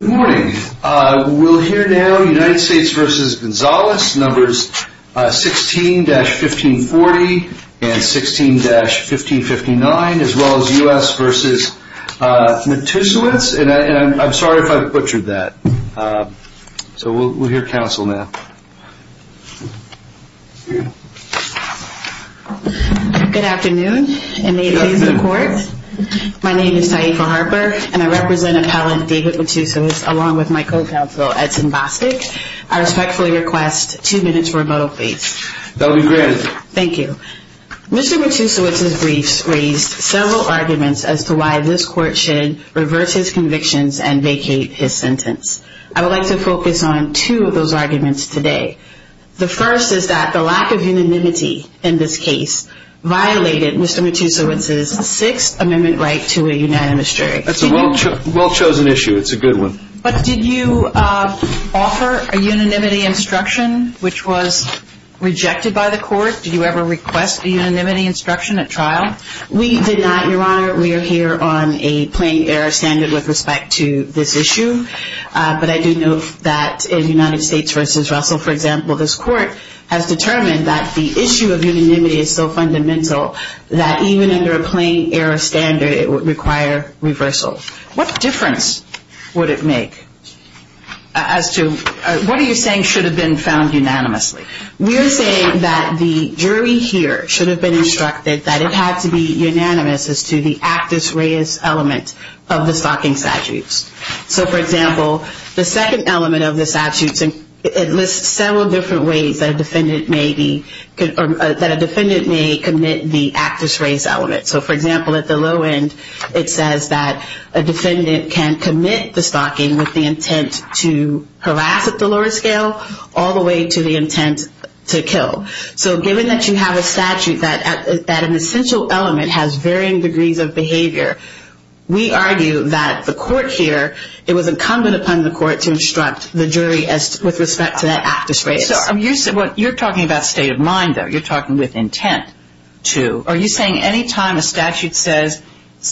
Good morning. We'll hear now United States v. Gonzalez numbers 16-1540 and 16-1559, as well as U.S. v. Matusowicz, and I'm sorry if I've butchered that. So we'll hear counsel now. Good afternoon, and may it please the court. My name is Taifa Harper, and I represent appellant David Matusowicz along with my co-counsel Edson Bostic. I respectfully request two minutes remoto, please. That will be granted. Thank you. Mr. Matusowicz's briefs raised several arguments as to why this court should reverse his convictions and vacate his sentence. I would like to focus on two of those arguments today. The first is that the lack of unanimity in this case violated Mr. Matusowicz's sixth amendment right to a unanimous jury. That's a well-chosen issue. It's a good one. But did you offer a unanimity instruction, which was rejected by the court? Did you ever request a unanimity instruction at trial? We did not, Your Honor. We are here on a plain error standard with respect to this issue. But I do note that in United States v. Russell, for example, this court has determined that the issue of unanimity is so fundamental that even under a plain error standard, it would require reversal. What difference would it make as to what are you saying should have been found unanimously? We are saying that the jury here should have been instructed that it had to be unanimous as to the actus reus element of the stalking statutes. For example, the second element of the statutes lists several different ways that a defendant may commit the actus reus element. For example, at the low end, it says that a defendant can commit the stalking with the intent to harass at the lower scale all the way to the intent to kill. So given that you have a statute that an essential element has varying degrees of behavior, we argue that the court here, it was incumbent upon the court to instruct the jury with respect to that actus reus. You're talking about state of mind, though. You're talking with intent to. Are you saying any time a statute says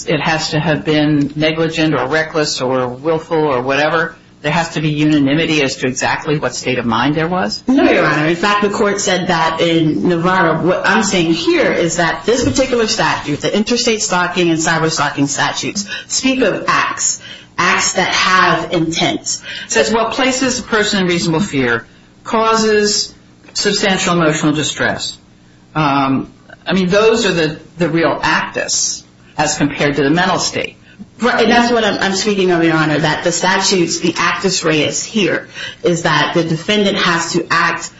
it has to have been negligent or reckless or willful or whatever, there has to be unanimity as to exactly what state of mind there was? No, Your Honor. In fact, the court said that in Navarro. What I'm saying here is that this particular statute, the interstate stalking and cyber stalking statutes speak of acts, acts that have intent. It says what places the person in reasonable fear causes substantial emotional distress. I mean, those are the real actus as compared to the mental state. That's what I'm speaking of, Your Honor, that the statutes, the actus reus here is that the defendant has to act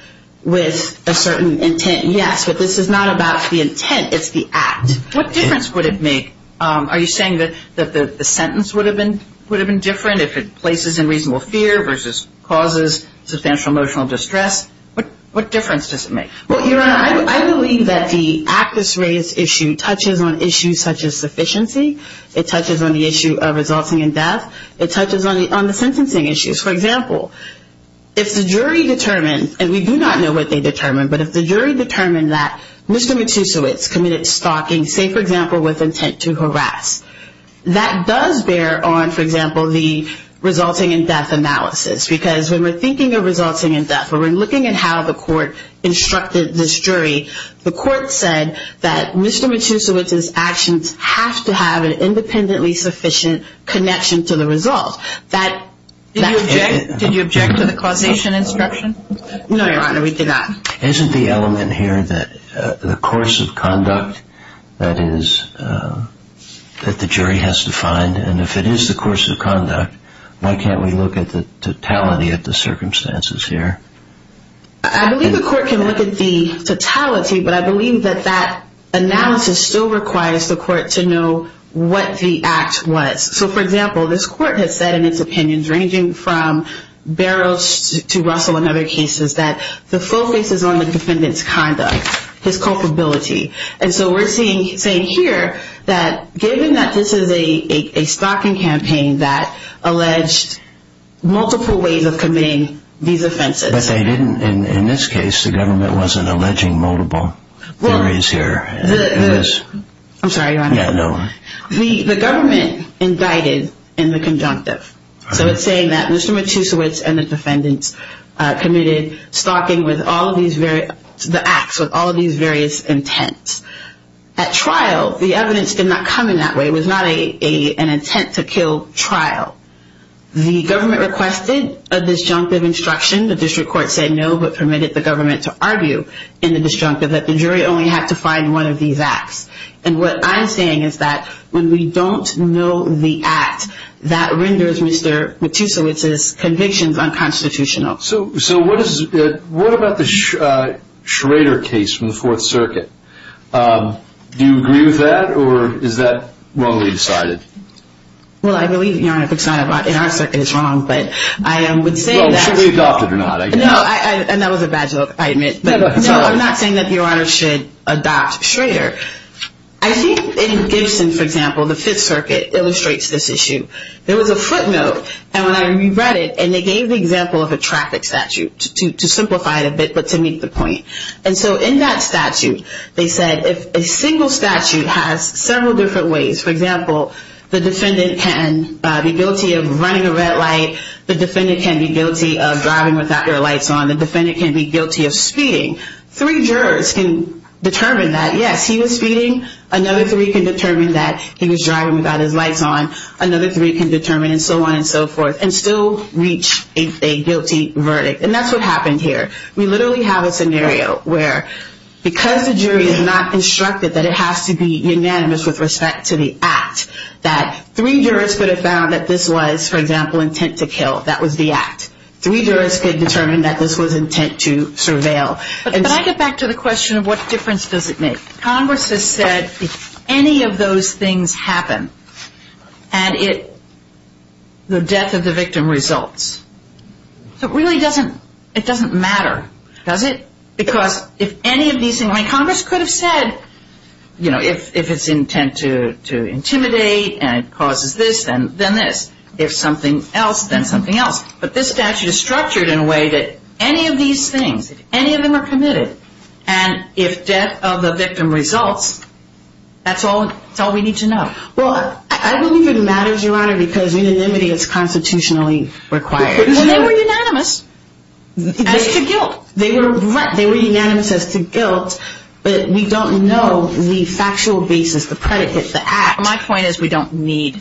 with a certain intent. Yes, but this is not about the intent. It's the act. What difference would it make? Are you saying that the sentence would have been different if it places in reasonable fear versus causes substantial emotional distress? What difference does it make? Well, Your Honor, I believe that the actus reus issue touches on issues such as sufficiency. It touches on the issue of resulting in death. It touches on the sentencing issues. For example, if the jury determined, and we do not know what they determined, but if the jury determined that Mr. Matusiewicz committed stalking, say, for example, with intent to harass, that does bear on, for example, the resulting in death analysis. Because when we're thinking of resulting in death, when we're looking at how the court instructed this jury, the court said that Mr. Matusiewicz's actions have to have an independently sufficient connection to the result. Did you object to the causation instruction? No, Your Honor, we did not. Isn't the element here that the course of conduct that the jury has defined, and if it is the course of conduct, why can't we look at the totality of the circumstances here? I believe the court can look at the totality, but I believe that that analysis still requires the court to know what the act was. So, for example, this court has said in its opinions, ranging from Barrows to Russell and other cases, that the focus is on the defendant's conduct, his culpability. And so we're saying here that given that this is a stalking campaign that alleged multiple ways of committing these offenses. But they didn't, in this case, the government wasn't alleging multiple theories here. I'm sorry, Your Honor. Yeah, no. The government indicted in the conjunctive. So it's saying that Mr. Matusiewicz and the defendants committed stalking with all of these various, the acts with all of these various intents. At trial, the evidence did not come in that way. It was not an intent to kill trial. The government requested a disjunctive instruction. The district court said no, but permitted the government to argue in the disjunctive that the jury only had to find one of these acts. And what I'm saying is that when we don't know the act, that renders Mr. Matusiewicz's convictions unconstitutional. So what about the Schrader case from the Fourth Circuit? Do you agree with that, or is that wrongly decided? Well, I believe, Your Honor, if it's not in our circuit, it's wrong. But I would say that. Well, should we adopt it or not? No, and that was a bad joke, I admit. No, I'm not saying that Your Honor should adopt Schrader. I think in Gibson, for example, the Fifth Circuit illustrates this issue. There was a footnote, and when I reread it, and they gave the example of a traffic statute to simplify it a bit, but to make the point. And so in that statute, they said if a single statute has several different ways, for example, the defendant can be guilty of running a red light, the defendant can be guilty of driving without their lights on, the defendant can be guilty of speeding. Three jurors can determine that, yes, he was speeding, another three can determine that he was driving without his lights on, another three can determine, and so on and so forth, and still reach a guilty verdict. And that's what happened here. We literally have a scenario where because the jury is not instructed that it has to be unanimous with respect to the act, that three jurors could have found that this was, for example, intent to kill, that was the act. Three jurors could determine that this was intent to surveil. But I get back to the question of what difference does it make? Congress has said if any of those things happen, and it, the death of the victim results. So it really doesn't, it doesn't matter, does it? Because if any of these things, I mean, Congress could have said, you know, if it's intent to intimidate and it causes this, then this. If something else, then something else. But this statute is structured in a way that any of these things, if any of them are committed, and if death of the victim results, that's all we need to know. Well, I believe it matters, Your Honor, because unanimity is constitutionally required. Well, they were unanimous as to guilt. They were unanimous as to guilt, but we don't know the factual basis, the predicate, the act. My point is we don't need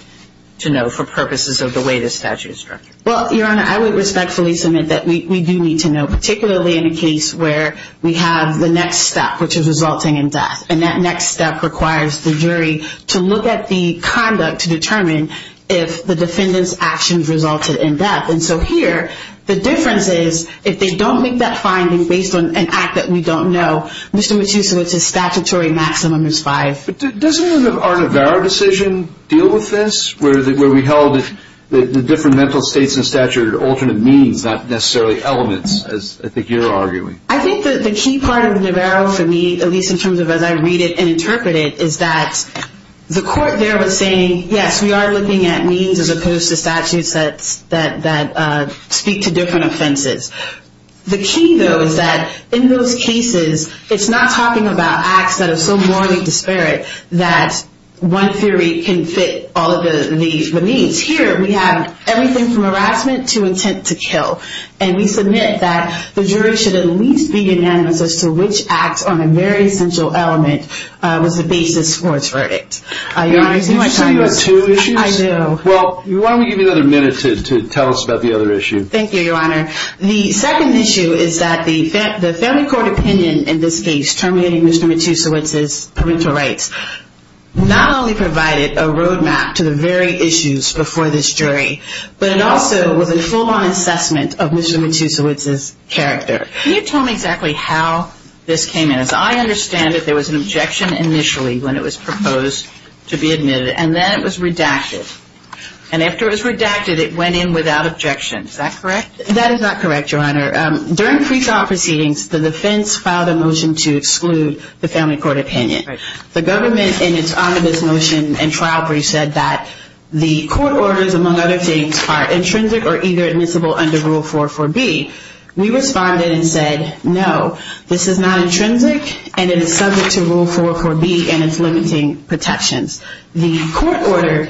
to know for purposes of the way the statute is structured. Well, Your Honor, I would respectfully submit that we do need to know, particularly in a case where we have the next step, which is resulting in death. And that next step requires the jury to look at the conduct to determine if the defendant's actions resulted in death. And so here, the difference is if they don't make that finding based on an act that we don't know, Mr. Matusso, it's a statutory maximum is five. But doesn't our Navarro decision deal with this, where we held the different mental states in statute are alternate means, not necessarily elements, as I think you're arguing? I think that the key part of the Navarro for me, at least in terms of as I read it and interpret it, is that the court there was saying, yes, we are looking at means as opposed to statutes that speak to different offenses. The key, though, is that in those cases, it's not talking about acts that are so morally disparate that one theory can fit all of the needs. Here, we have everything from harassment to intent to kill. And we submit that the jury should at least be unanimous as to which acts on a very central element was the basis for its verdict. Your Honor, did you have two issues? I do. Well, why don't we give you another minute to tell us about the other issue? Thank you, Your Honor. The second issue is that the family court opinion in this case terminating Mr. Matusowicz's parental rights not only provided a roadmap to the very issues before this jury, but it also was a full-on assessment of Mr. Matusowicz's character. Can you tell me exactly how this came in? As I understand it, there was an objection initially when it was proposed to be admitted. And then it was redacted. And after it was redacted, it went in without objection. Is that correct? That is not correct, Your Honor. During pretrial proceedings, the defense filed a motion to exclude the family court opinion. The government, in its omnibus motion and trial brief, said that the court orders, among other things, are intrinsic or either admissible under Rule 444B. We responded and said, no, this is not intrinsic and it is subject to Rule 444B and its limiting protections. The court order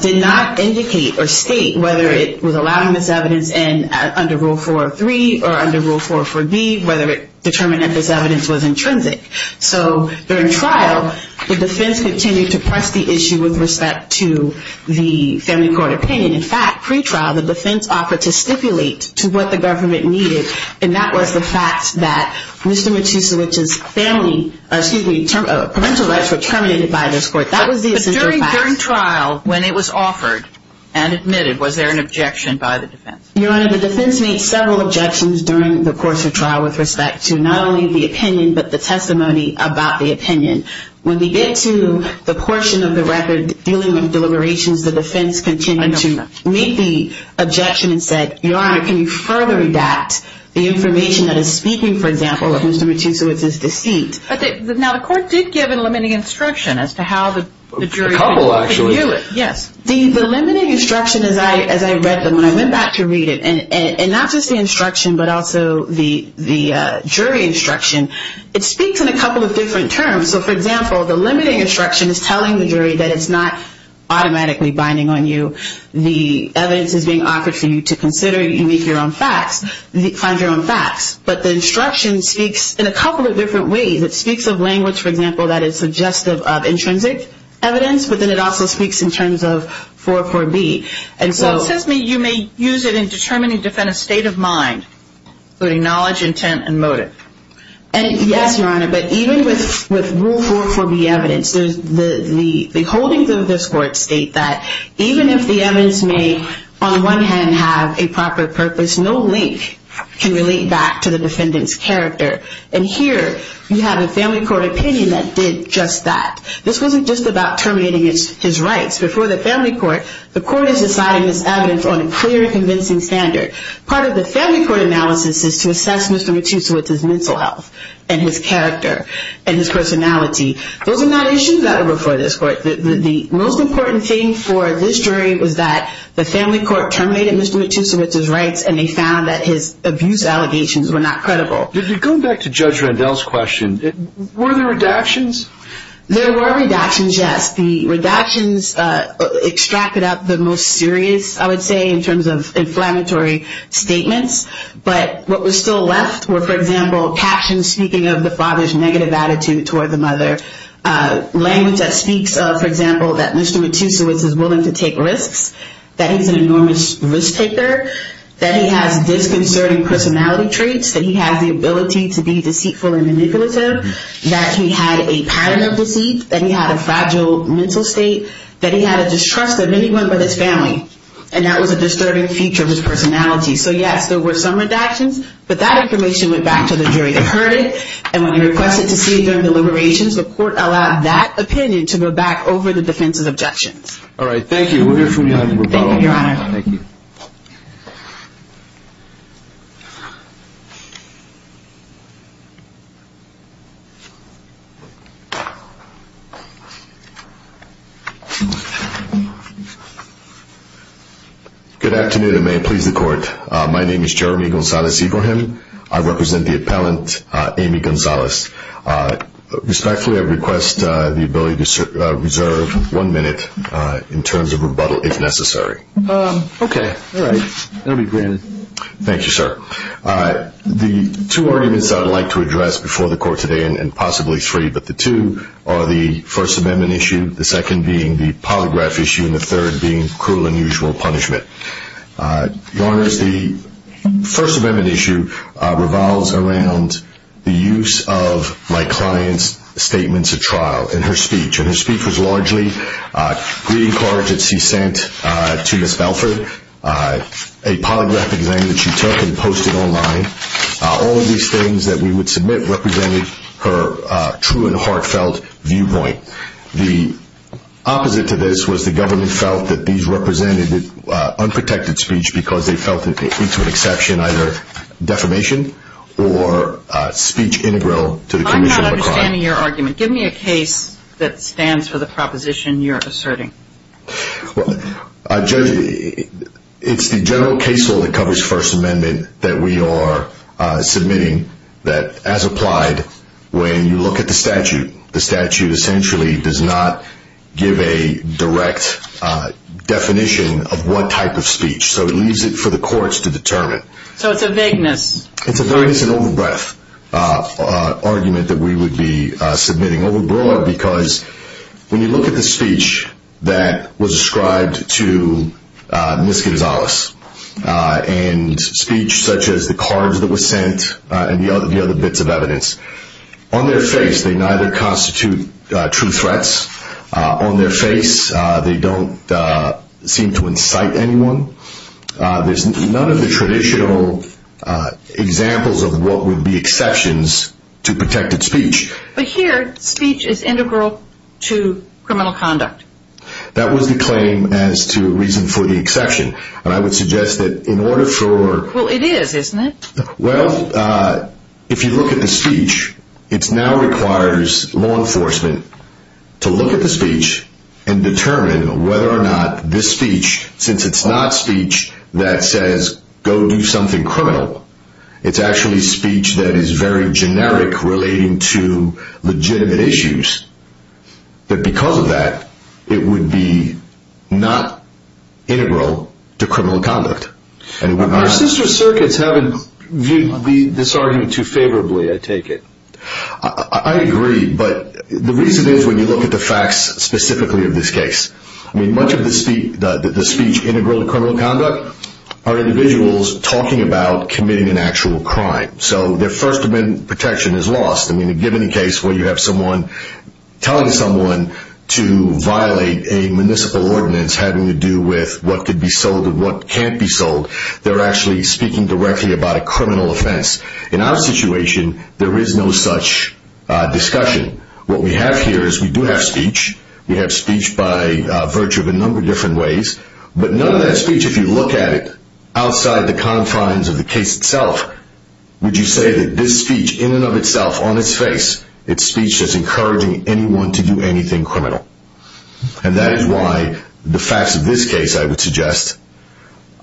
did not indicate or state whether it was allowing this evidence under Rule 403 or under Rule 444B, whether it determined that this evidence was intrinsic. So during trial, the defense continued to press the issue with respect to the family court opinion. In fact, pretrial, the defense offered to stipulate to what the government needed, and that was the fact that Mr. Matusowicz's parental rights were terminated by this court. That was the essential fact. But during trial, when it was offered and admitted, was there an objection by the defense? Your Honor, the defense made several objections during the course of trial with respect to not only the opinion but the testimony about the opinion. When we get to the portion of the record dealing with deliberations, the defense continued to make the objection and said, Your Honor, can you further redact the information that is speaking, for example, of Mr. Matusowicz's deceit? Now, the court did give a limiting instruction as to how the jury could view it. A couple, actually. Yes. The limiting instruction, as I read them, when I went back to read it, and not just the instruction but also the jury instruction, it speaks in a couple of different terms. So, for example, the limiting instruction is telling the jury that it's not automatically binding on you. The evidence is being offered for you to consider and make your own facts, find your own facts. But the instruction speaks in a couple of different ways. It speaks of language, for example, that is suggestive of intrinsic evidence, but then it also speaks in terms of 4.4.B. Well, it says you may use it in determining a defendant's state of mind, including knowledge, intent, and motive. Yes, Your Honor, but even with Rule 4.4.B evidence, the holdings of this court state that even if the evidence may, on the one hand, have a proper purpose, there's no link can relate back to the defendant's character. And here, you have a family court opinion that did just that. This wasn't just about terminating his rights. Before the family court, the court is deciding this evidence on a clear and convincing standard. Part of the family court analysis is to assess Mr. Matusiewicz's mental health and his character and his personality. Those are not issues that are before this court. The most important thing for this jury was that the family court terminated Mr. Matusiewicz's rights, and they found that his abuse allegations were not credible. Going back to Judge Randall's question, were there redactions? There were redactions, yes. The redactions extracted out the most serious, I would say, in terms of inflammatory statements. But what was still left were, for example, captions speaking of the father's negative attitude toward the mother, language that speaks of, for example, that Mr. Matusiewicz is willing to take risks, that he's an enormous risk-taker, that he has disconcerting personality traits, that he has the ability to be deceitful and manipulative, that he had a pattern of deceit, that he had a fragile mental state, that he had a distrust of anyone but his family, and that was a disturbing feature of his personality. So, yes, there were some redactions, but that information went back to the jury. They heard it, and when you request it to see it during the deliberations, the court allowed that opinion to go back over the defense's objections. All right. Thank you. We'll hear from you on the rebuttal. Thank you, Your Honor. Thank you. Good afternoon, and may it please the Court. My name is Jeremy Gonzalez-Ibrahim. I represent the appellant, Amy Gonzalez. Respectfully, I request the ability to reserve one minute in terms of rebuttal, if necessary. Okay. All right. That will be granted. Thank you, sir. The two arguments I would like to address before the Court today, and possibly three, but the two are the First Amendment issue, the second being the polygraph issue, and the third being cruel and unusual punishment. Your Honors, the First Amendment issue revolves around the use of my client's statements at trial in her speech, and her speech was largely greeting cards that she sent to Ms. Belford, a polygraph exam that she took and posted online. All of these things that we would submit represented her true and heartfelt viewpoint. Okay. The opposite to this was the government felt that these represented unprotected speech because they felt that it would lead to an exception, either defamation or speech integral to the commission of a crime. I'm not understanding your argument. Give me a case that stands for the proposition you're asserting. Judge, it's the general case law that covers First Amendment that we are submitting, that as applied, when you look at the statute, the statute essentially does not give a direct definition of what type of speech, so it leaves it for the courts to determine. So it's a vagueness. It's a vagueness and over-breath argument that we would be submitting, over-breath because when you look at the speech that was ascribed to Ms. Gonzalez, and speech such as the cards that were sent and the other bits of evidence, on their face they neither constitute true threats. On their face they don't seem to incite anyone. There's none of the traditional examples of what would be exceptions to protected speech. But here, speech is integral to criminal conduct. That was the claim as to a reason for the exception, and I would suggest that in order for... Well, it is, isn't it? Well, if you look at the speech, it now requires law enforcement to look at the speech and determine whether or not this speech, since it's not speech that says go do something criminal, it's actually speech that is very generic relating to legitimate issues. But because of that, it would be not integral to criminal conduct. Our sister circuits haven't viewed this argument too favorably, I take it. I agree, but the reason is when you look at the facts specifically of this case. I mean, much of the speech integral to criminal conduct are individuals talking about committing an actual crime. So their First Amendment protection is lost. I mean, in any case where you have someone telling someone to violate a municipal ordinance having to do with what could be sold and what can't be sold, they're actually speaking directly about a criminal offense. In our situation, there is no such discussion. What we have here is we do have speech. We have speech by virtue of a number of different ways. But none of that speech, if you look at it outside the confines of the case itself, would you say that this speech in and of itself, on its face, it's speech that's encouraging anyone to do anything criminal. And that is why the facts of this case, I would suggest,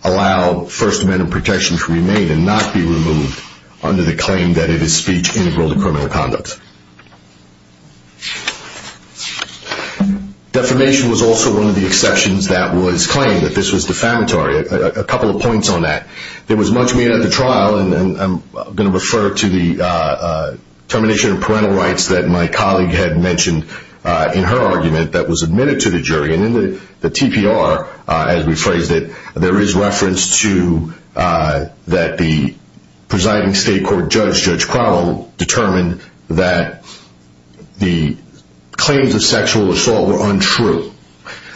allow First Amendment protection to remain and not be removed under the claim that it is speech integral to criminal conduct. Defamation was also one of the exceptions that was claimed, that this was defamatory. A couple of points on that. There was much made at the trial, and I'm going to refer to the termination of parental rights that my colleague had mentioned in her argument that was admitted to the jury. And in the TPR, as we phrased it, there is reference to that the presiding state court judge, Judge Crowell, determined that the claims of sexual assault were untrue.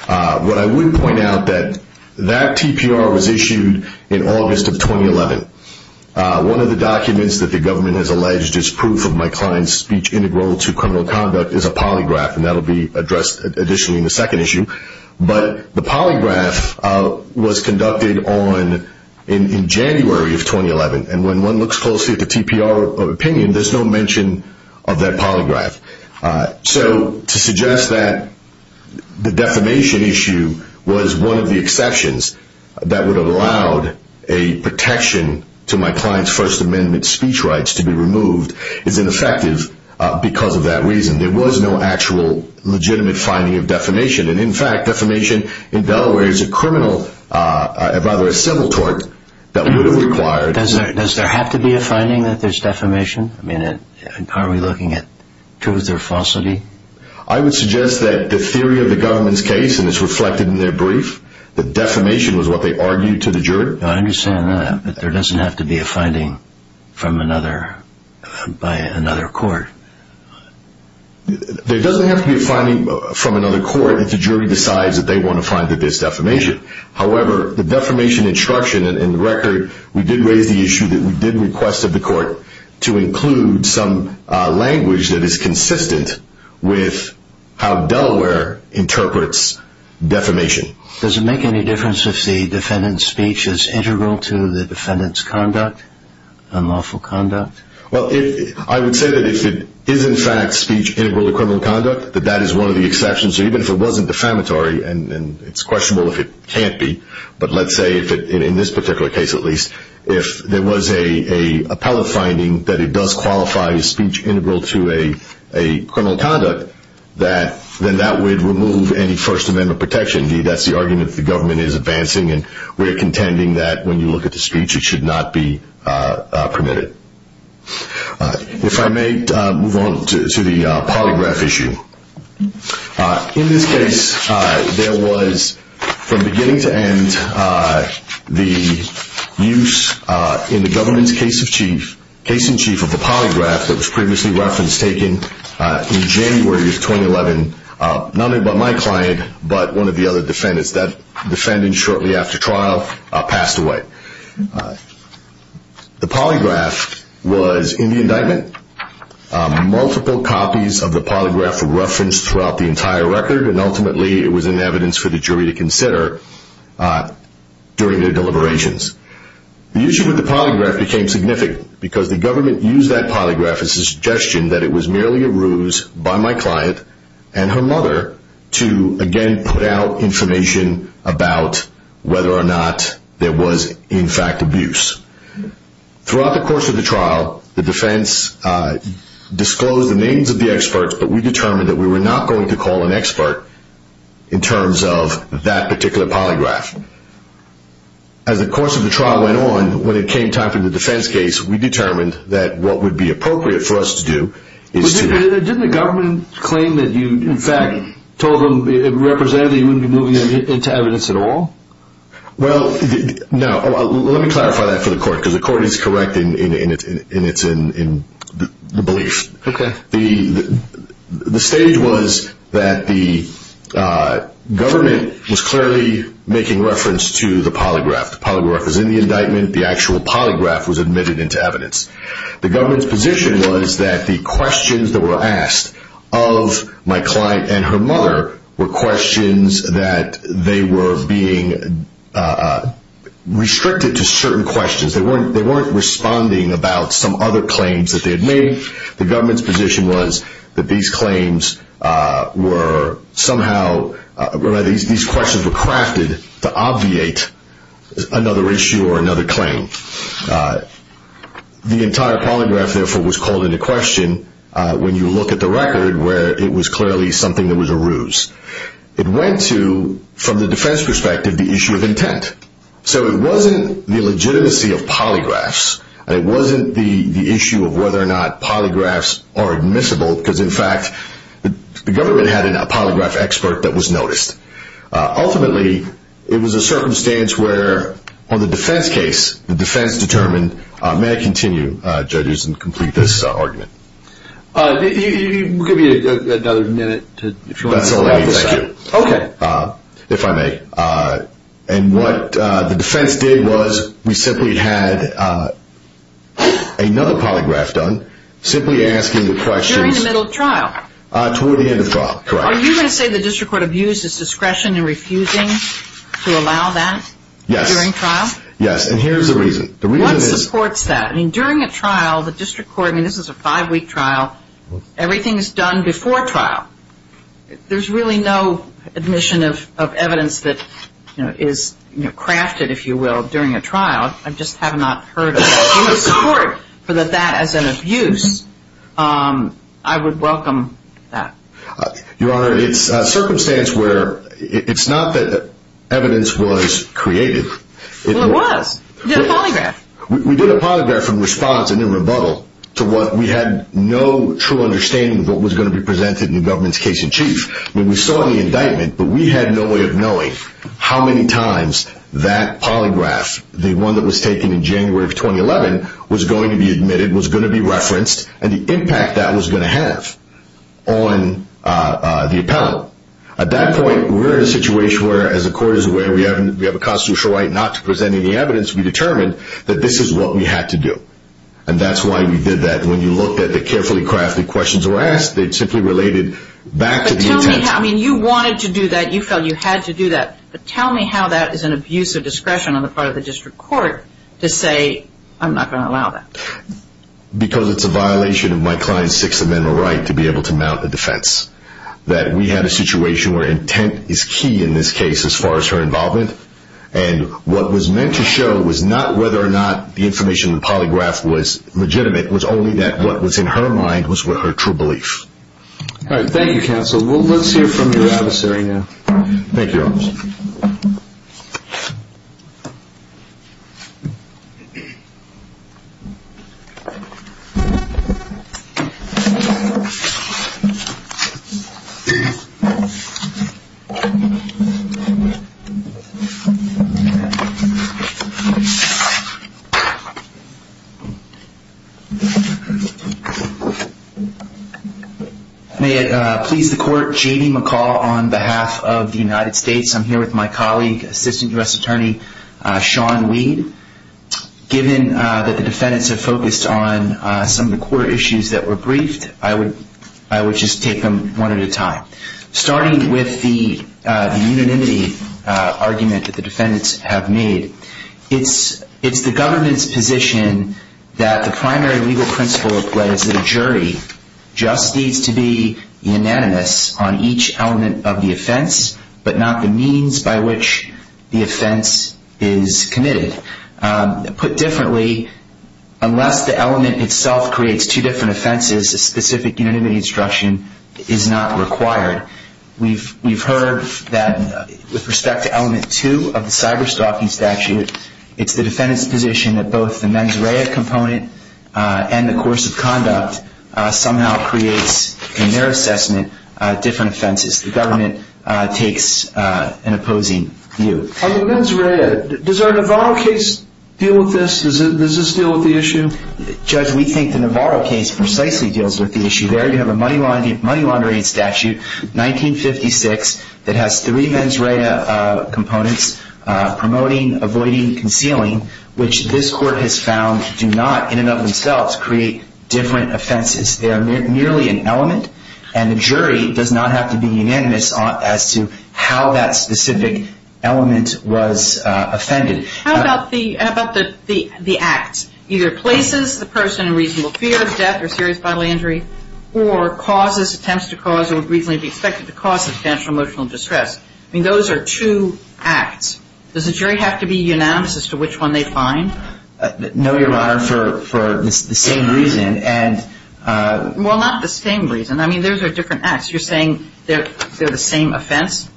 What I would point out, that that TPR was issued in August of 2011. One of the documents that the government has alleged is proof of my client's speech integral to criminal conduct is a polygraph, and that will be addressed additionally in the second issue. But the polygraph was conducted in January of 2011. And when one looks closely at the TPR opinion, there's no mention of that polygraph. So to suggest that the defamation issue was one of the exceptions that would have allowed a protection to my client's First Amendment speech rights to be removed is ineffective because of that reason. There was no actual legitimate finding of defamation. And in fact, defamation in Delaware is a criminal, rather a civil tort, that would have required... Does there have to be a finding that there's defamation? I mean, are we looking at truth or falsity? I would suggest that the theory of the government's case, and it's reflected in their brief, that defamation was what they argued to the jury. I understand that, but there doesn't have to be a finding by another court. There doesn't have to be a finding from another court if the jury decides that they want to find that there's defamation. However, the defamation instruction in the record, we did raise the issue that we did request of the court to include some language that is consistent with how Delaware interprets defamation. Does it make any difference if the defendant's speech is integral to the defendant's conduct, unlawful conduct? Well, I would say that if it is in fact speech integral to criminal conduct, that that is one of the exceptions. So even if it wasn't defamatory, and it's questionable if it can't be, but let's say, in this particular case at least, if there was an appellate finding that it does qualify as speech integral to a criminal conduct, then that would remove any First Amendment protection. That's the argument that the government is advancing, and we're contending that when you look at the speech, it should not be permitted. If I may move on to the polygraph issue. In this case, there was, from beginning to end, the use in the government's case in chief of the polygraph that was previously referenced, taken in January of 2011, not only by my client, but one of the other defendants. That defendant shortly after trial passed away. The polygraph was in the indictment. Multiple copies of the polygraph were referenced throughout the entire record, and ultimately it was in evidence for the jury to consider during their deliberations. The issue with the polygraph became significant, because the government used that polygraph as a suggestion that it was merely a ruse by my client and her mother to, again, put out information about whether or not there was, in fact, abuse. Throughout the course of the trial, the defense disclosed the names of the experts, but we determined that we were not going to call an expert in terms of that particular polygraph. As the course of the trial went on, when it came time for the defense case, we determined that what would be appropriate for us to do is to... Didn't the government claim that you, in fact, told them representatively you wouldn't be moving into evidence at all? Well, no. Let me clarify that for the court, because the court is correct in its belief. Okay. The stage was that the government was clearly making reference to the polygraph. The polygraph was in the indictment. The actual polygraph was admitted into evidence. The government's position was that the questions that were asked of my client and her mother were questions that they were being restricted to certain questions. They weren't responding about some other claims that they had made. The government's position was that these claims were somehow... These questions were crafted to obviate another issue or another claim. The entire polygraph, therefore, was called into question when you look at the record, where it was clearly something that was a ruse. It went to, from the defense perspective, the issue of intent. So it wasn't the legitimacy of polygraphs, and it wasn't the issue of whether or not polygraphs are admissible, because, in fact, the government had a polygraph expert that was noticed. Ultimately, it was a circumstance where, on the defense case, the defense determined, may I continue, judges, and complete this argument? We'll give you another minute to... That's all right. Thank you. Okay. If I may. And what the defense did was we simply had another polygraph done, simply asking the questions... During the middle of trial. Toward the end of trial, correct. Are you going to say the district court abused its discretion in refusing to allow that during trial? Yes, and here's the reason. What supports that? During a trial, the district court, and this is a five-week trial, everything is done before trial. There's really no admission of evidence that is crafted, if you will, during a trial. I just have not heard of any support for that as an abuse. I would welcome that. Your Honor, it's a circumstance where it's not that evidence was created. Well, it was. You did a polygraph. We did a polygraph in response and in rebuttal to what we had no true understanding of what was going to be presented in the government's case in chief. We saw the indictment, but we had no way of knowing how many times that polygraph, the one that was taken in January of 2011, was going to be admitted, was going to be referenced, and the impact that was going to have on the appellant. At that point, we're in a situation where, as the court is aware, we have a constitutional right not to present any evidence. We determined that this is what we had to do, and that's why we did that. When you looked at the carefully crafted questions that were asked, they simply related back to the intent. But tell me how. I mean, you wanted to do that. You felt you had to do that. But tell me how that is an abuse of discretion on the part of the district court to say, I'm not going to allow that. Because it's a violation of my client's Sixth Amendment right to be able to mount a defense, that we had a situation where intent is key in this case as far as her involvement. And what was meant to show was not whether or not the information in the polygraph was legitimate, it was only that what was in her mind was her true belief. All right. Thank you, counsel. Let's hear from your adversary now. Thank you. May it please the court, J.D. McCall on behalf of the United States. I'm here with my colleague, Assistant U.S. Attorney Sean Weed. Given that the defendants have focused on some of the court issues that were briefed, Starting with the unanimity argument that the defendants have made, it's the government's position that the primary legal principle of the jury just needs to be unanimous on each element of the offense, but not the means by which the offense is committed. Put differently, unless the element itself creates two different offenses, a specific unanimity instruction is not required. We've heard that with respect to element two of the cyberstalking statute, it's the defendant's position that both the mens rea component and the course of conduct somehow creates, in their assessment, different offenses. The government takes an opposing view. On the mens rea, does our Navarro case deal with this? Does this deal with the issue? Judge, we think the Navarro case precisely deals with the issue there. You have a money laundering statute, 1956, that has three mens rea components, promoting, avoiding, concealing, which this court has found do not, in and of themselves, create different offenses. They are merely an element, and the jury does not have to be unanimous as to how that specific element was offended. How about the acts? Either places the person in reasonable fear of death or serious bodily injury, or causes, attempts to cause, or would reasonably be expected to cause substantial emotional distress. I mean, those are two acts. Does the jury have to be unanimous as to which one they find? No, Your Honor, for the same reason. Well, not the same reason. I mean, those are different acts. You're saying they're the same offense?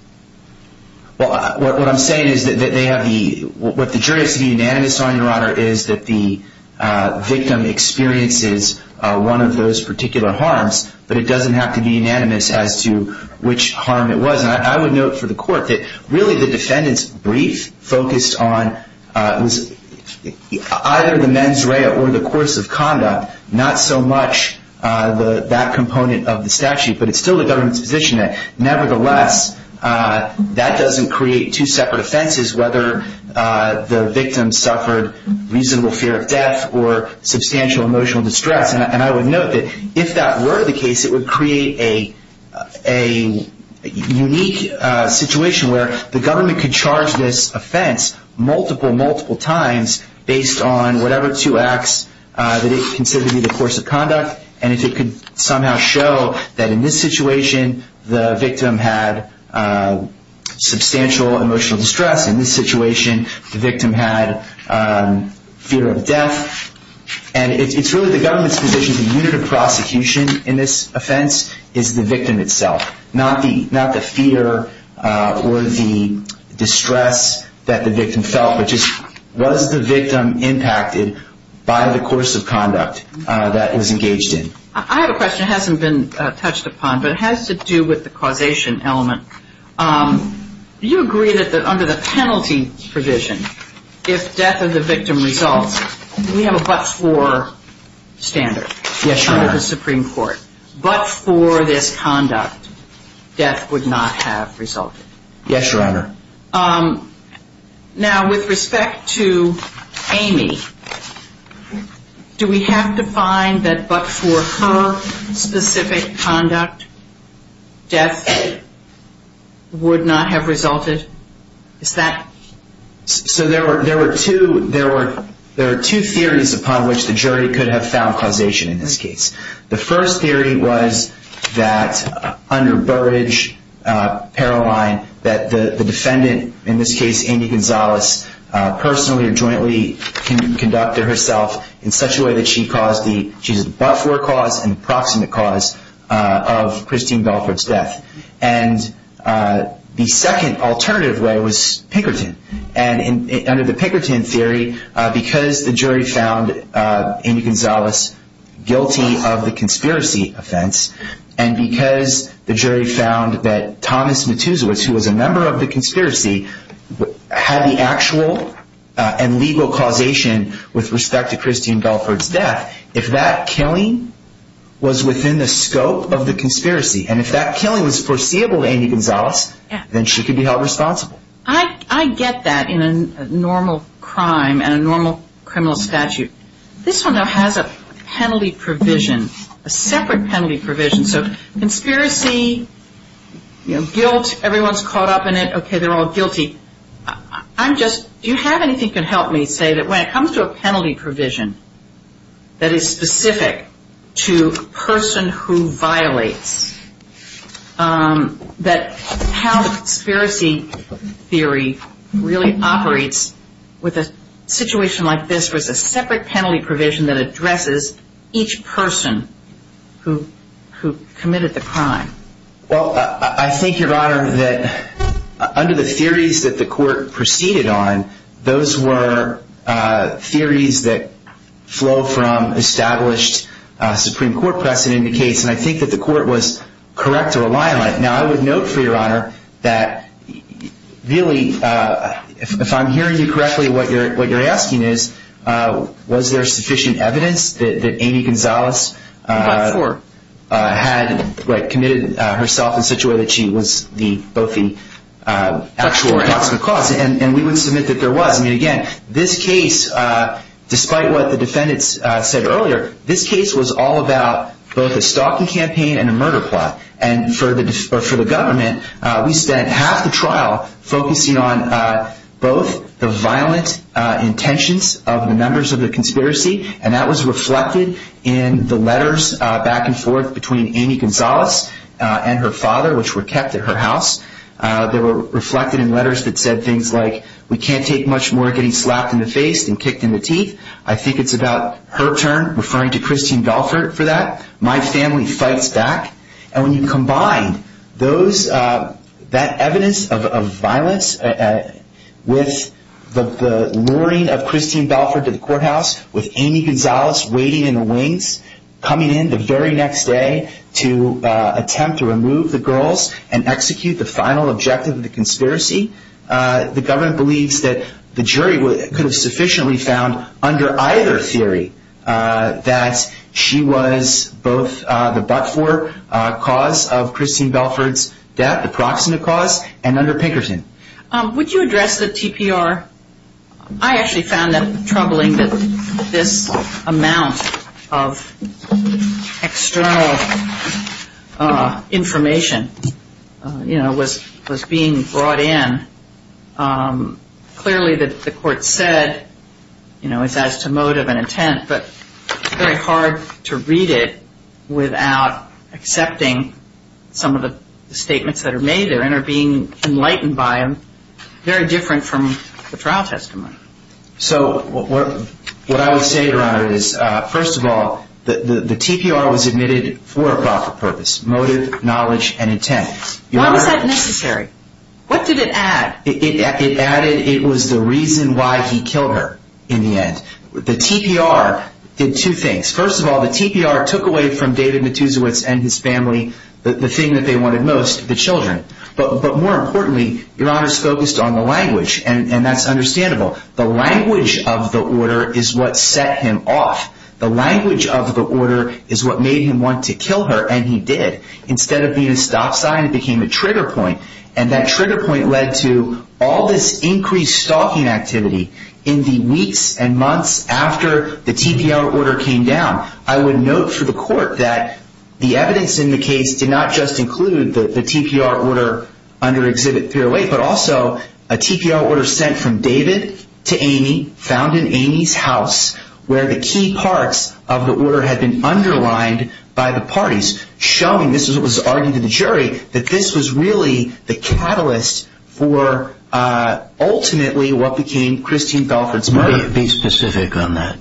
Well, what I'm saying is that they have the – what the jury has to be unanimous on, Your Honor, is that the victim experiences one of those particular harms, but it doesn't have to be unanimous as to which harm it was. And I would note for the court that really the defendant's brief focused on either the mens rea or the course of conduct, not so much that component of the statute, but it's still the government's position that, nevertheless, that doesn't create two separate offenses, whether the victim suffered reasonable fear of death or substantial emotional distress. And I would note that if that were the case, it would create a unique situation where the government could charge this offense multiple, multiple times based on whatever two acts that it considered to be the course of conduct, and if it could somehow show that in this situation the victim had substantial emotional distress, in this situation the victim had fear of death, and it's really the government's position, the unit of prosecution in this offense is the victim itself, not the fear or the distress that the victim felt, but just was the victim impacted by the course of conduct that it was engaged in. I have a question. It hasn't been touched upon, but it has to do with the causation element. Do you agree that under the penalty provision, if death of the victim results, we have a but-for standard under the Supreme Court? Yes, Your Honor. But for this conduct, death would not have resulted? Yes, Your Honor. Now, with respect to Amy, do we have to find that but-for her specific conduct, death would not have resulted? Is that? So there were two theories upon which the jury could have found causation in this case. The first theory was that under Burrage, Paroline, that the defendant, in this case Amy Gonzalez, personally or jointly conducted herself in such a way that she caused the but-for cause and the proximate cause of Christine Belfort's death. And the second alternative way was Pinkerton. And under the Pinkerton theory, because the jury found Amy Gonzalez guilty of the conspiracy offense and because the jury found that Thomas Matuzowicz, who was a member of the conspiracy, had the actual and legal causation with respect to Christine Belfort's death, if that killing was within the scope of the conspiracy and if that killing was foreseeable to Amy Gonzalez, then she could be held responsible. I get that in a normal crime and a normal criminal statute. This one, though, has a penalty provision, a separate penalty provision. So conspiracy, guilt, everyone's caught up in it, okay, they're all guilty. I'm just-do you have anything that can help me say that when it comes to a penalty provision that is specific to a person who violates, that how the conspiracy theory really operates with a situation like this where it's a separate penalty provision that addresses each person who committed the crime? Well, I think, Your Honor, that under the theories that the court proceeded on, those were theories that flow from established Supreme Court precedent in the case, and I think that the court was correct to rely on that. Now, I would note, for Your Honor, that really, if I'm hearing you correctly, what you're asking is, was there sufficient evidence that Amy Gonzalez had committed herself in such a way that she was both the actual and possible cause? Yes, and we would submit that there was. I mean, again, this case, despite what the defendants said earlier, this case was all about both a stalking campaign and a murder plot. And for the government, we spent half the trial focusing on both the violent intentions of the members of the conspiracy, and that was reflected in the letters back and forth between Amy Gonzalez and her father, which were kept at her house. They were reflected in letters that said things like, we can't take much more getting slapped in the face than kicked in the teeth. I think it's about her turn, referring to Christine Balfour for that. My family fights back. And when you combine that evidence of violence with the luring of Christine Balfour to the courthouse, with Amy Gonzalez waiting in the wings, coming in the very next day to attempt to remove the girls and execute the final objective of the conspiracy, the government believes that the jury could have sufficiently found under either theory that she was both the but-for cause of Christine Balfour's death, the proximate cause, and under Pinkerton. Would you address the TPR? I actually found it troubling that this amount of external information, you know, was being brought in. Clearly the court said, you know, it's as to motive and intent, but it's very hard to read it without accepting some of the statements that are made there and are being enlightened by them, very different from the trial testimony. So what I would say, Your Honor, is, first of all, the TPR was admitted for a profit purpose, motive, knowledge, and intent. Why was that necessary? What did it add? It added it was the reason why he killed her in the end. The TPR did two things. First of all, the TPR took away from David Matuszewicz and his family the thing that they wanted most, the children. But more importantly, Your Honor, it's focused on the language, and that's understandable. The language of the order is what set him off. The language of the order is what made him want to kill her, and he did. Instead of being a stop sign, it became a trigger point, and that trigger point led to all this increased stalking activity in the weeks and months after the TPR order came down. I would note for the court that the evidence in the case did not just include the TPR order under Exhibit 308, but also a TPR order sent from David to Amy, found in Amy's house, where the key parts of the order had been underlined by the parties, showing this was what was argued in the jury, that this was really the catalyst for ultimately what became Christine Belfort's murder. Be specific on that.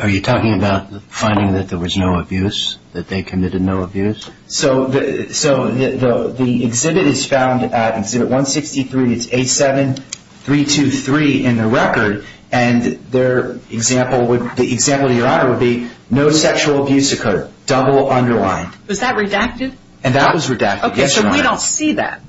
Are you talking about finding that there was no abuse, that they committed no abuse? So the exhibit is found at Exhibit 163, and it's 87-323 in the record, and the example to Your Honor would be, no sexual abuse occurred, double underlined. Was that redacted? And that was redacted, yes, Your Honor. Okay, so we don't see that.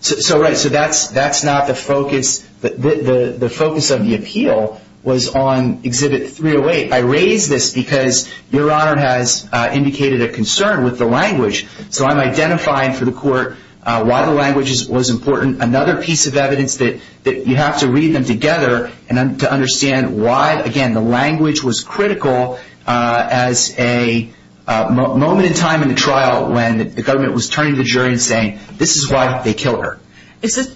So, right, so that's not the focus. The focus of the appeal was on Exhibit 308. I raise this because Your Honor has indicated a concern with the language, so I'm identifying for the court why the language was important. Another piece of evidence that you have to read them together to understand why, again, the language was critical as a moment in time in the trial when the government was turning to the jury and saying, this is why they killed her.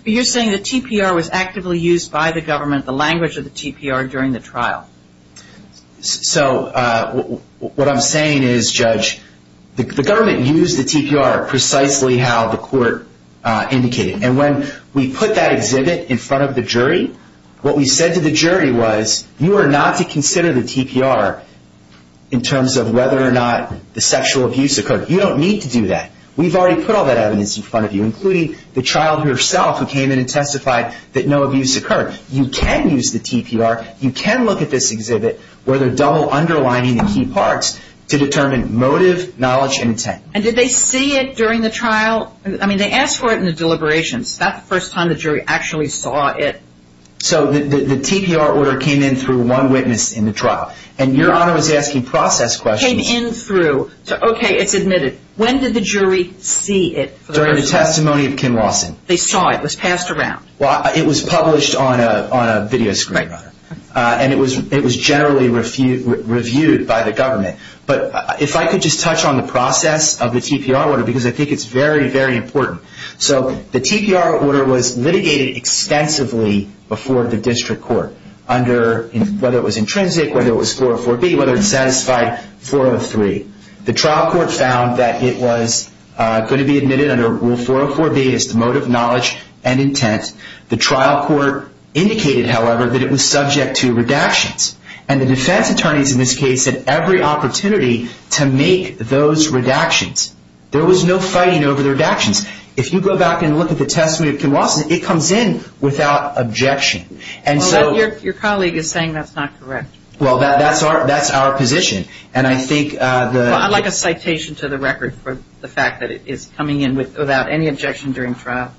You're saying the TPR was actively used by the government, the language of the TPR, during the trial. So what I'm saying is, Judge, the government used the TPR precisely how the court indicated, and when we put that exhibit in front of the jury, what we said to the jury was, you are not to consider the TPR in terms of whether or not the sexual abuse occurred. You don't need to do that. We've already put all that evidence in front of you, including the child herself who came in and testified that no abuse occurred. You can use the TPR. You can look at this exhibit where they're double underlining the key parts to determine motive, knowledge, and intent. And did they see it during the trial? I mean, they asked for it in the deliberations. That's the first time the jury actually saw it. So the TPR order came in through one witness in the trial, and Your Honor was asking process questions. Came in through. Okay, it's admitted. When did the jury see it? During the testimony of Kim Lawson. They saw it. It was passed around. Well, it was published on a video screen, and it was generally reviewed by the government. But if I could just touch on the process of the TPR order, because I think it's very, very important. So the TPR order was litigated extensively before the district court, whether it was intrinsic, whether it was 404B, whether it satisfied 403. The trial court found that it was going to be admitted under Rule 404B as the motive, knowledge, and intent. The trial court indicated, however, that it was subject to redactions. And the defense attorneys in this case had every opportunity to make those redactions. There was no fighting over the redactions. If you go back and look at the testimony of Kim Lawson, it comes in without objection. Your colleague is saying that's not correct. Well, that's our position. I'd like a citation to the record for the fact that it is coming in without any objection during trial.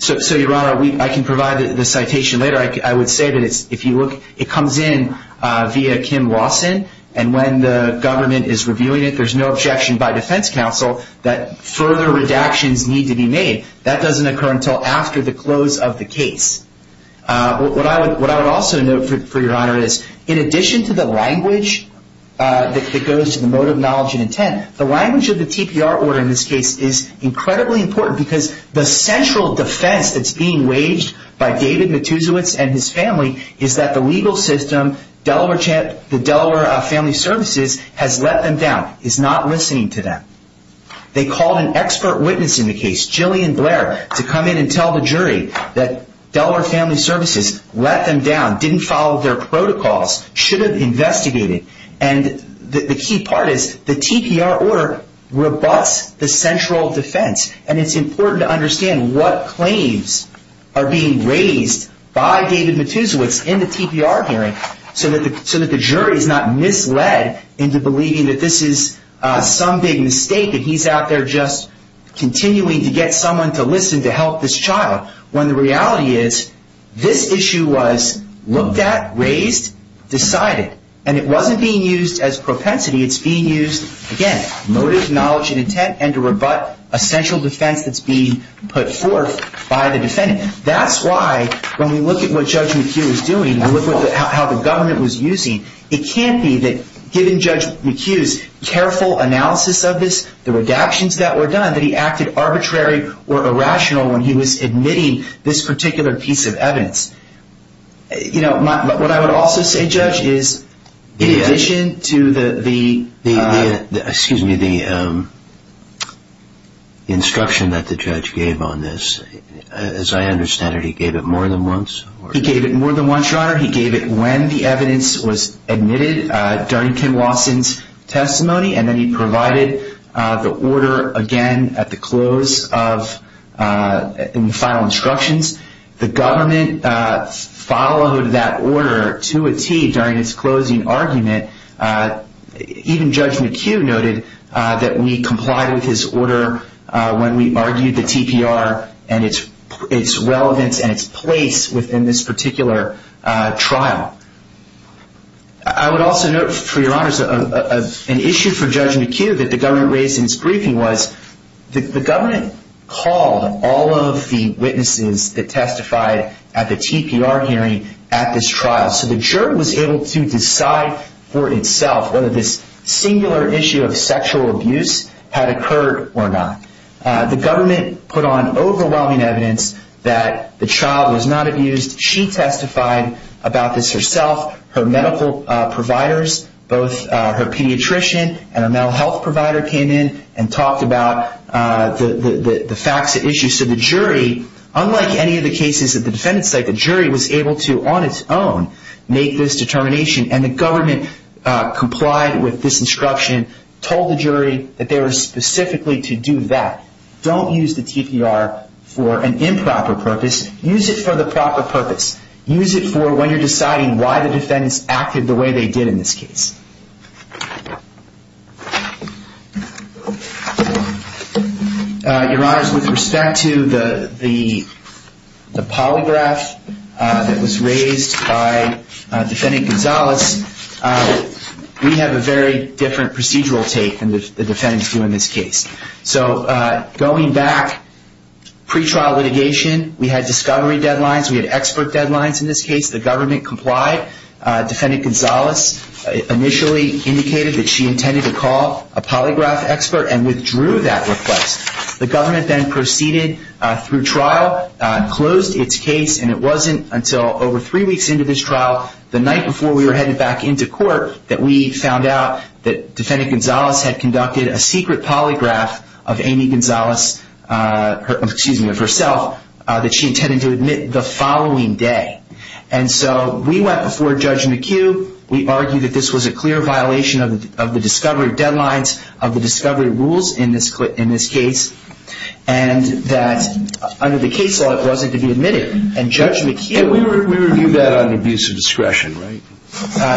So, Your Honor, I can provide the citation later. I would say that if you look, it comes in via Kim Lawson, and when the government is reviewing it, there's no objection by defense counsel that further redactions need to be made. That doesn't occur until after the close of the case. What I would also note, for Your Honor, is in addition to the language that goes to the motive, knowledge, and intent, the language of the TPR order in this case is incredibly important, because the central defense that's being waged by David Matusiewicz and his family is that the legal system, the Delaware Family Services has let them down, is not listening to them. They called an expert witness in the case, Jillian Blair, to come in and tell the jury that Delaware Family Services let them down, didn't follow their protocols, should have investigated, and the key part is the TPR order rebuts the central defense, and it's important to understand what claims are being raised by David Matusiewicz in the TPR hearing so that the jury is not misled into believing that this is some big mistake and he's out there just continuing to get someone to listen to help this child, when the reality is this issue was looked at, raised, decided, and it wasn't being used as propensity. It's being used, again, motive, knowledge, and intent, and to rebut a central defense that's being put forth by the defendant. That's why when we look at what Judge McHugh is doing and look at how the government was using, it can't be that given Judge McHugh's careful analysis of this, the redactions that were done, that he acted arbitrary or irrational when he was admitting this particular piece of evidence. What I would also say, Judge, is in addition to the instruction that the judge gave on this, as I understand it, he gave it more than once? He gave it more than once, Your Honor. He gave it when the evidence was admitted during Ken Watson's testimony, and then he provided the order again at the close of the final instructions. The government followed that order to a T during its closing argument. Even Judge McHugh noted that we complied with his order when we argued the TPR and its relevance and its place within this particular trial. I would also note, for Your Honor, an issue for Judge McHugh that the government raised in its briefing was that the government called all of the witnesses that testified at the TPR hearing at this trial, so the jury was able to decide for itself whether this singular issue of sexual abuse had occurred or not. The government put on overwhelming evidence that the child was not abused. She testified about this herself. Her medical providers, both her pediatrician and her mental health provider, came in and talked about the facts at issue. So the jury, unlike any of the cases at the defendant's side, the jury was able to, on its own, make this determination, and the government complied with this instruction, told the jury that they were specifically to do that. Don't use the TPR for an improper purpose. Use it for the proper purpose. Use it for when you're deciding why the defendants acted the way they did in this case. Your Honors, with respect to the polygraph that was raised by Defendant Gonzalez, we have a very different procedural take than the defendants do in this case. So going back, pretrial litigation, we had discovery deadlines, we had expert deadlines in this case. The government complied. Defendant Gonzalez initially indicated that she intended to call a polygraph expert and withdrew that request. The government then proceeded through trial, closed its case, and it wasn't until over three weeks into this trial, the night before we were headed back into court, that we found out that Defendant Gonzalez had conducted a secret polygraph of Amy Gonzalez, excuse me, of herself, that she intended to admit the following day. And so we went before Judge McHugh, we argued that this was a clear violation of the discovery deadlines, of the discovery rules in this case, and that under the case law it wasn't to be admitted. And Judge McHugh... Yeah, we reviewed that on abuse of discretion, right?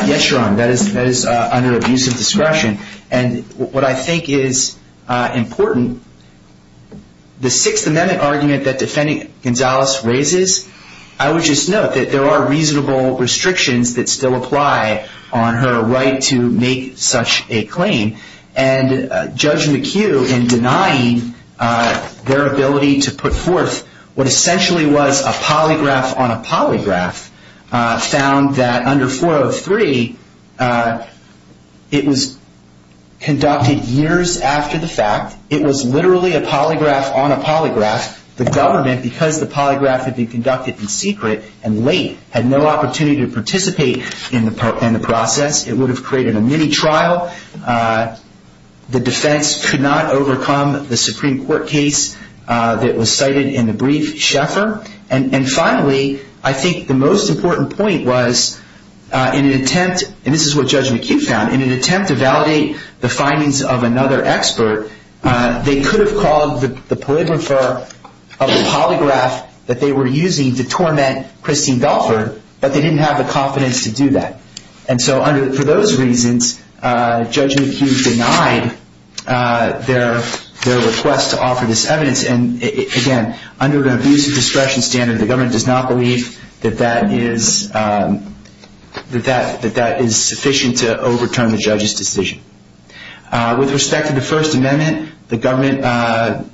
Yes, Your Honor, that is under abuse of discretion. And what I think is important, the Sixth Amendment argument that Defendant Gonzalez raises, I would just note that there are reasonable restrictions that still apply on her right to make such a claim. And Judge McHugh, in denying their ability to put forth what essentially was a polygraph on a polygraph, found that under 403 it was conducted years after the fact. It was literally a polygraph on a polygraph. In fact, the government, because the polygraph had been conducted in secret and late, had no opportunity to participate in the process. It would have created a mini-trial. The defense could not overcome the Supreme Court case that was cited in the brief. And finally, I think the most important point was, in an attempt, and this is what Judge McHugh found, in an attempt to validate the findings of another expert, they could have called the polygrapher of the polygraph that they were using to torment Christine Belford, but they didn't have the confidence to do that. And so for those reasons, Judge McHugh denied their request to offer this evidence. And again, under the abuse of discretion standard, the government does not believe that that is sufficient to overturn the judge's decision. With respect to the First Amendment, the government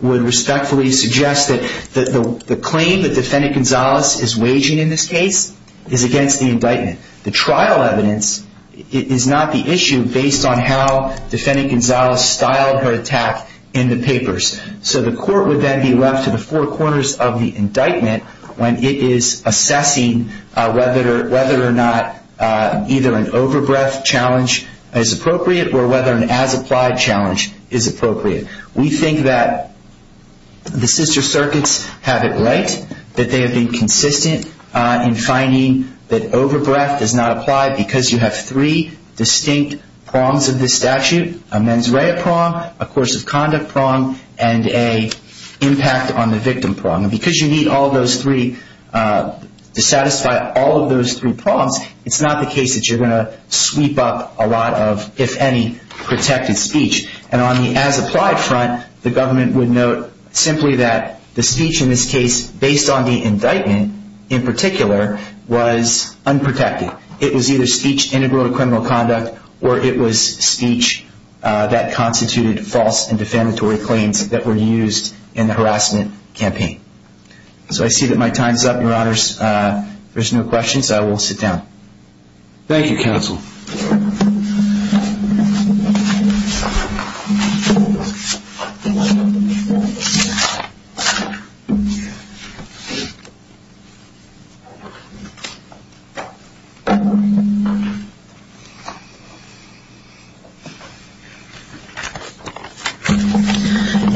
would respectfully suggest that the claim that defendant Gonzalez is waging in this case is against the indictment. The trial evidence is not the issue based on how defendant Gonzalez styled her attack in the papers. So the court would then be left to the four corners of the indictment when it is assessing whether or not either an over-breath challenge is appropriate or whether an as-applied challenge is appropriate. We think that the sister circuits have it right, that they have been consistent in finding that over-breath does not apply because you have three distinct prongs of this statute, a mens rea prong, a course of conduct prong, and a impact on the victim prong. And because you need all of those three to satisfy all of those three prongs, it's not the case that you're going to sweep up a lot of, if any, protected speech. And on the as-applied front, the government would note simply that the speech in this case, based on the indictment in particular, was unprotected. It was either speech integral to criminal conduct or it was speech that constituted false and defamatory claims that were used in the harassment campaign. So I see that my time is up, Your Honors. If there's no questions, I will sit down. Thank you, Counsel.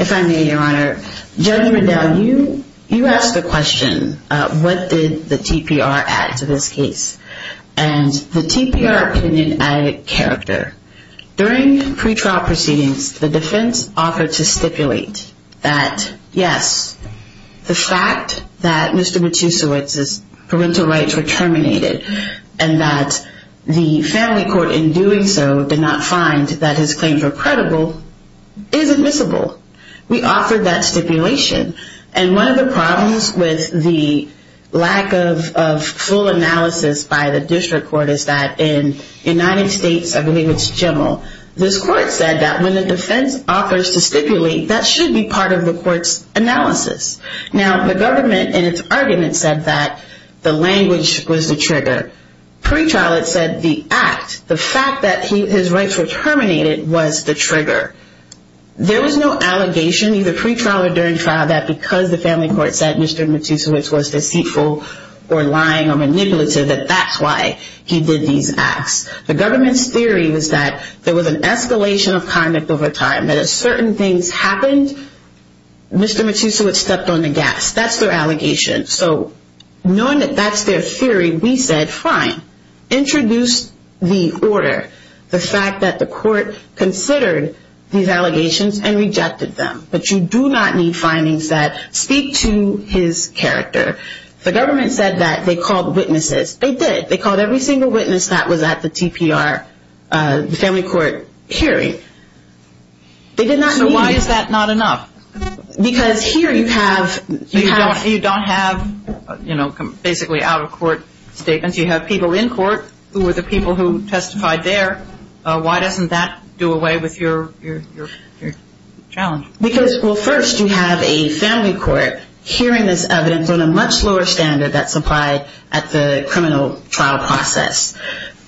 If I may, Your Honor, Judge Riddell, you asked the question, what did the TPR add to this case? And the TPR opinion added character. During pretrial proceedings, the defense offered to stipulate that, yes, the fact that Mr. Matusiewicz's parental rights were terminated and that the family court in doing so did not find that his claims were credible is admissible. We offered that stipulation. And one of the problems with the lack of full analysis by the district court is that in the United States, I believe it's general, this court said that when the defense offers to stipulate, that should be part of the court's analysis. Now, the government in its argument said that the language was the trigger. Pretrial, it said the act, the fact that his rights were terminated was the trigger. There was no allegation, either pretrial or during trial, that because the family court said Mr. Matusiewicz was deceitful or lying or manipulative that that's why he did these acts. The government's theory was that there was an escalation of conduct over time, that as certain things happened, Mr. Matusiewicz stepped on the gas. That's their allegation. So knowing that that's their theory, we said, fine, introduce the order, the fact that the court considered these allegations and rejected them. But you do not need findings that speak to his character. The government said that they called witnesses. They did. They called every single witness that was at the TPR, the family court hearing. They did not need. So why is that not enough? Because here you have... You don't have, you know, basically out-of-court statements. You have people in court who are the people who testified there. Why doesn't that do away with your challenge? Because, well, first you have a family court hearing this evidence on a much lower standard that's applied at the criminal trial process.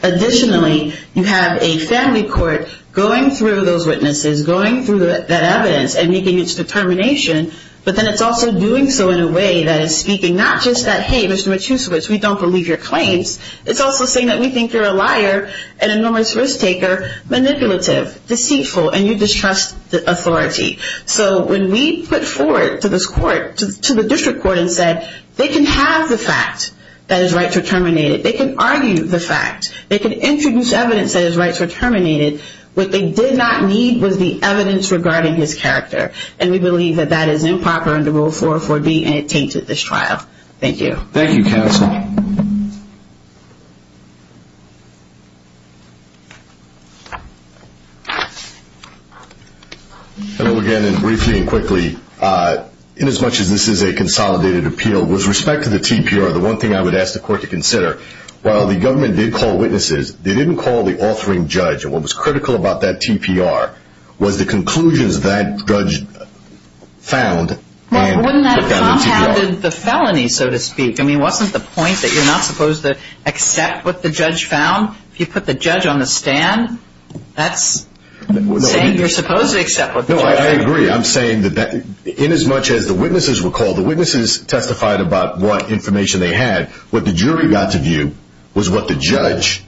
Additionally, you have a family court going through those witnesses, going through that evidence and making its determination, but then it's also doing so in a way that is speaking not just that, hey, Mr. Matusiewicz, we don't believe your claims. It's also saying that we think you're a liar and a numerous risk-taker, manipulative, deceitful, and you distrust authority. So when we put forward to this court, to the district court and said, they can have the fact that his rights were terminated. They can argue the fact. They can introduce evidence that his rights were terminated. What they did not need was the evidence regarding his character, and we believe that that is improper under Rule 404B and it tainted this trial. Thank you. Thank you, counsel. Hello again, and briefly and quickly, inasmuch as this is a consolidated appeal, with respect to the TPR, the one thing I would ask the court to consider, while the government did call witnesses, they didn't call the authoring judge, and what was critical about that TPR was the conclusions that judge found. Now, wouldn't that have compounded the felony, so to speak? That you're not supposed to accept what the judge found? If you put the judge on the stand, that's saying you're supposed to accept what the judge found. No, I agree. I'm saying that inasmuch as the witnesses were called, the witnesses testified about what information they had. What the jury got to view was what the judge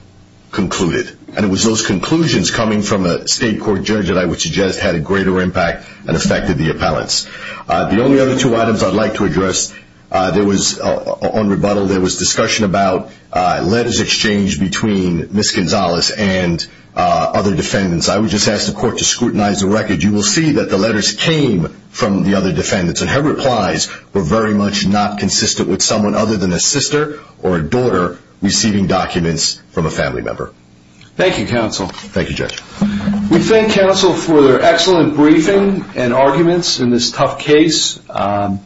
concluded, and it was those conclusions coming from a state court judge that I would suggest had a greater impact and affected the appellants. The only other two items I'd like to address, there was, on rebuttal, there was discussion about letters exchanged between Ms. Gonzalez and other defendants. I would just ask the court to scrutinize the record. You will see that the letters came from the other defendants, and her replies were very much not consistent with someone other than a sister or a daughter receiving documents from a family member. Thank you, counsel. Thank you, Judge. We thank counsel for their excellent briefing and arguments in this tough case. We're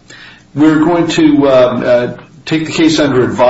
going to take the case under advisory.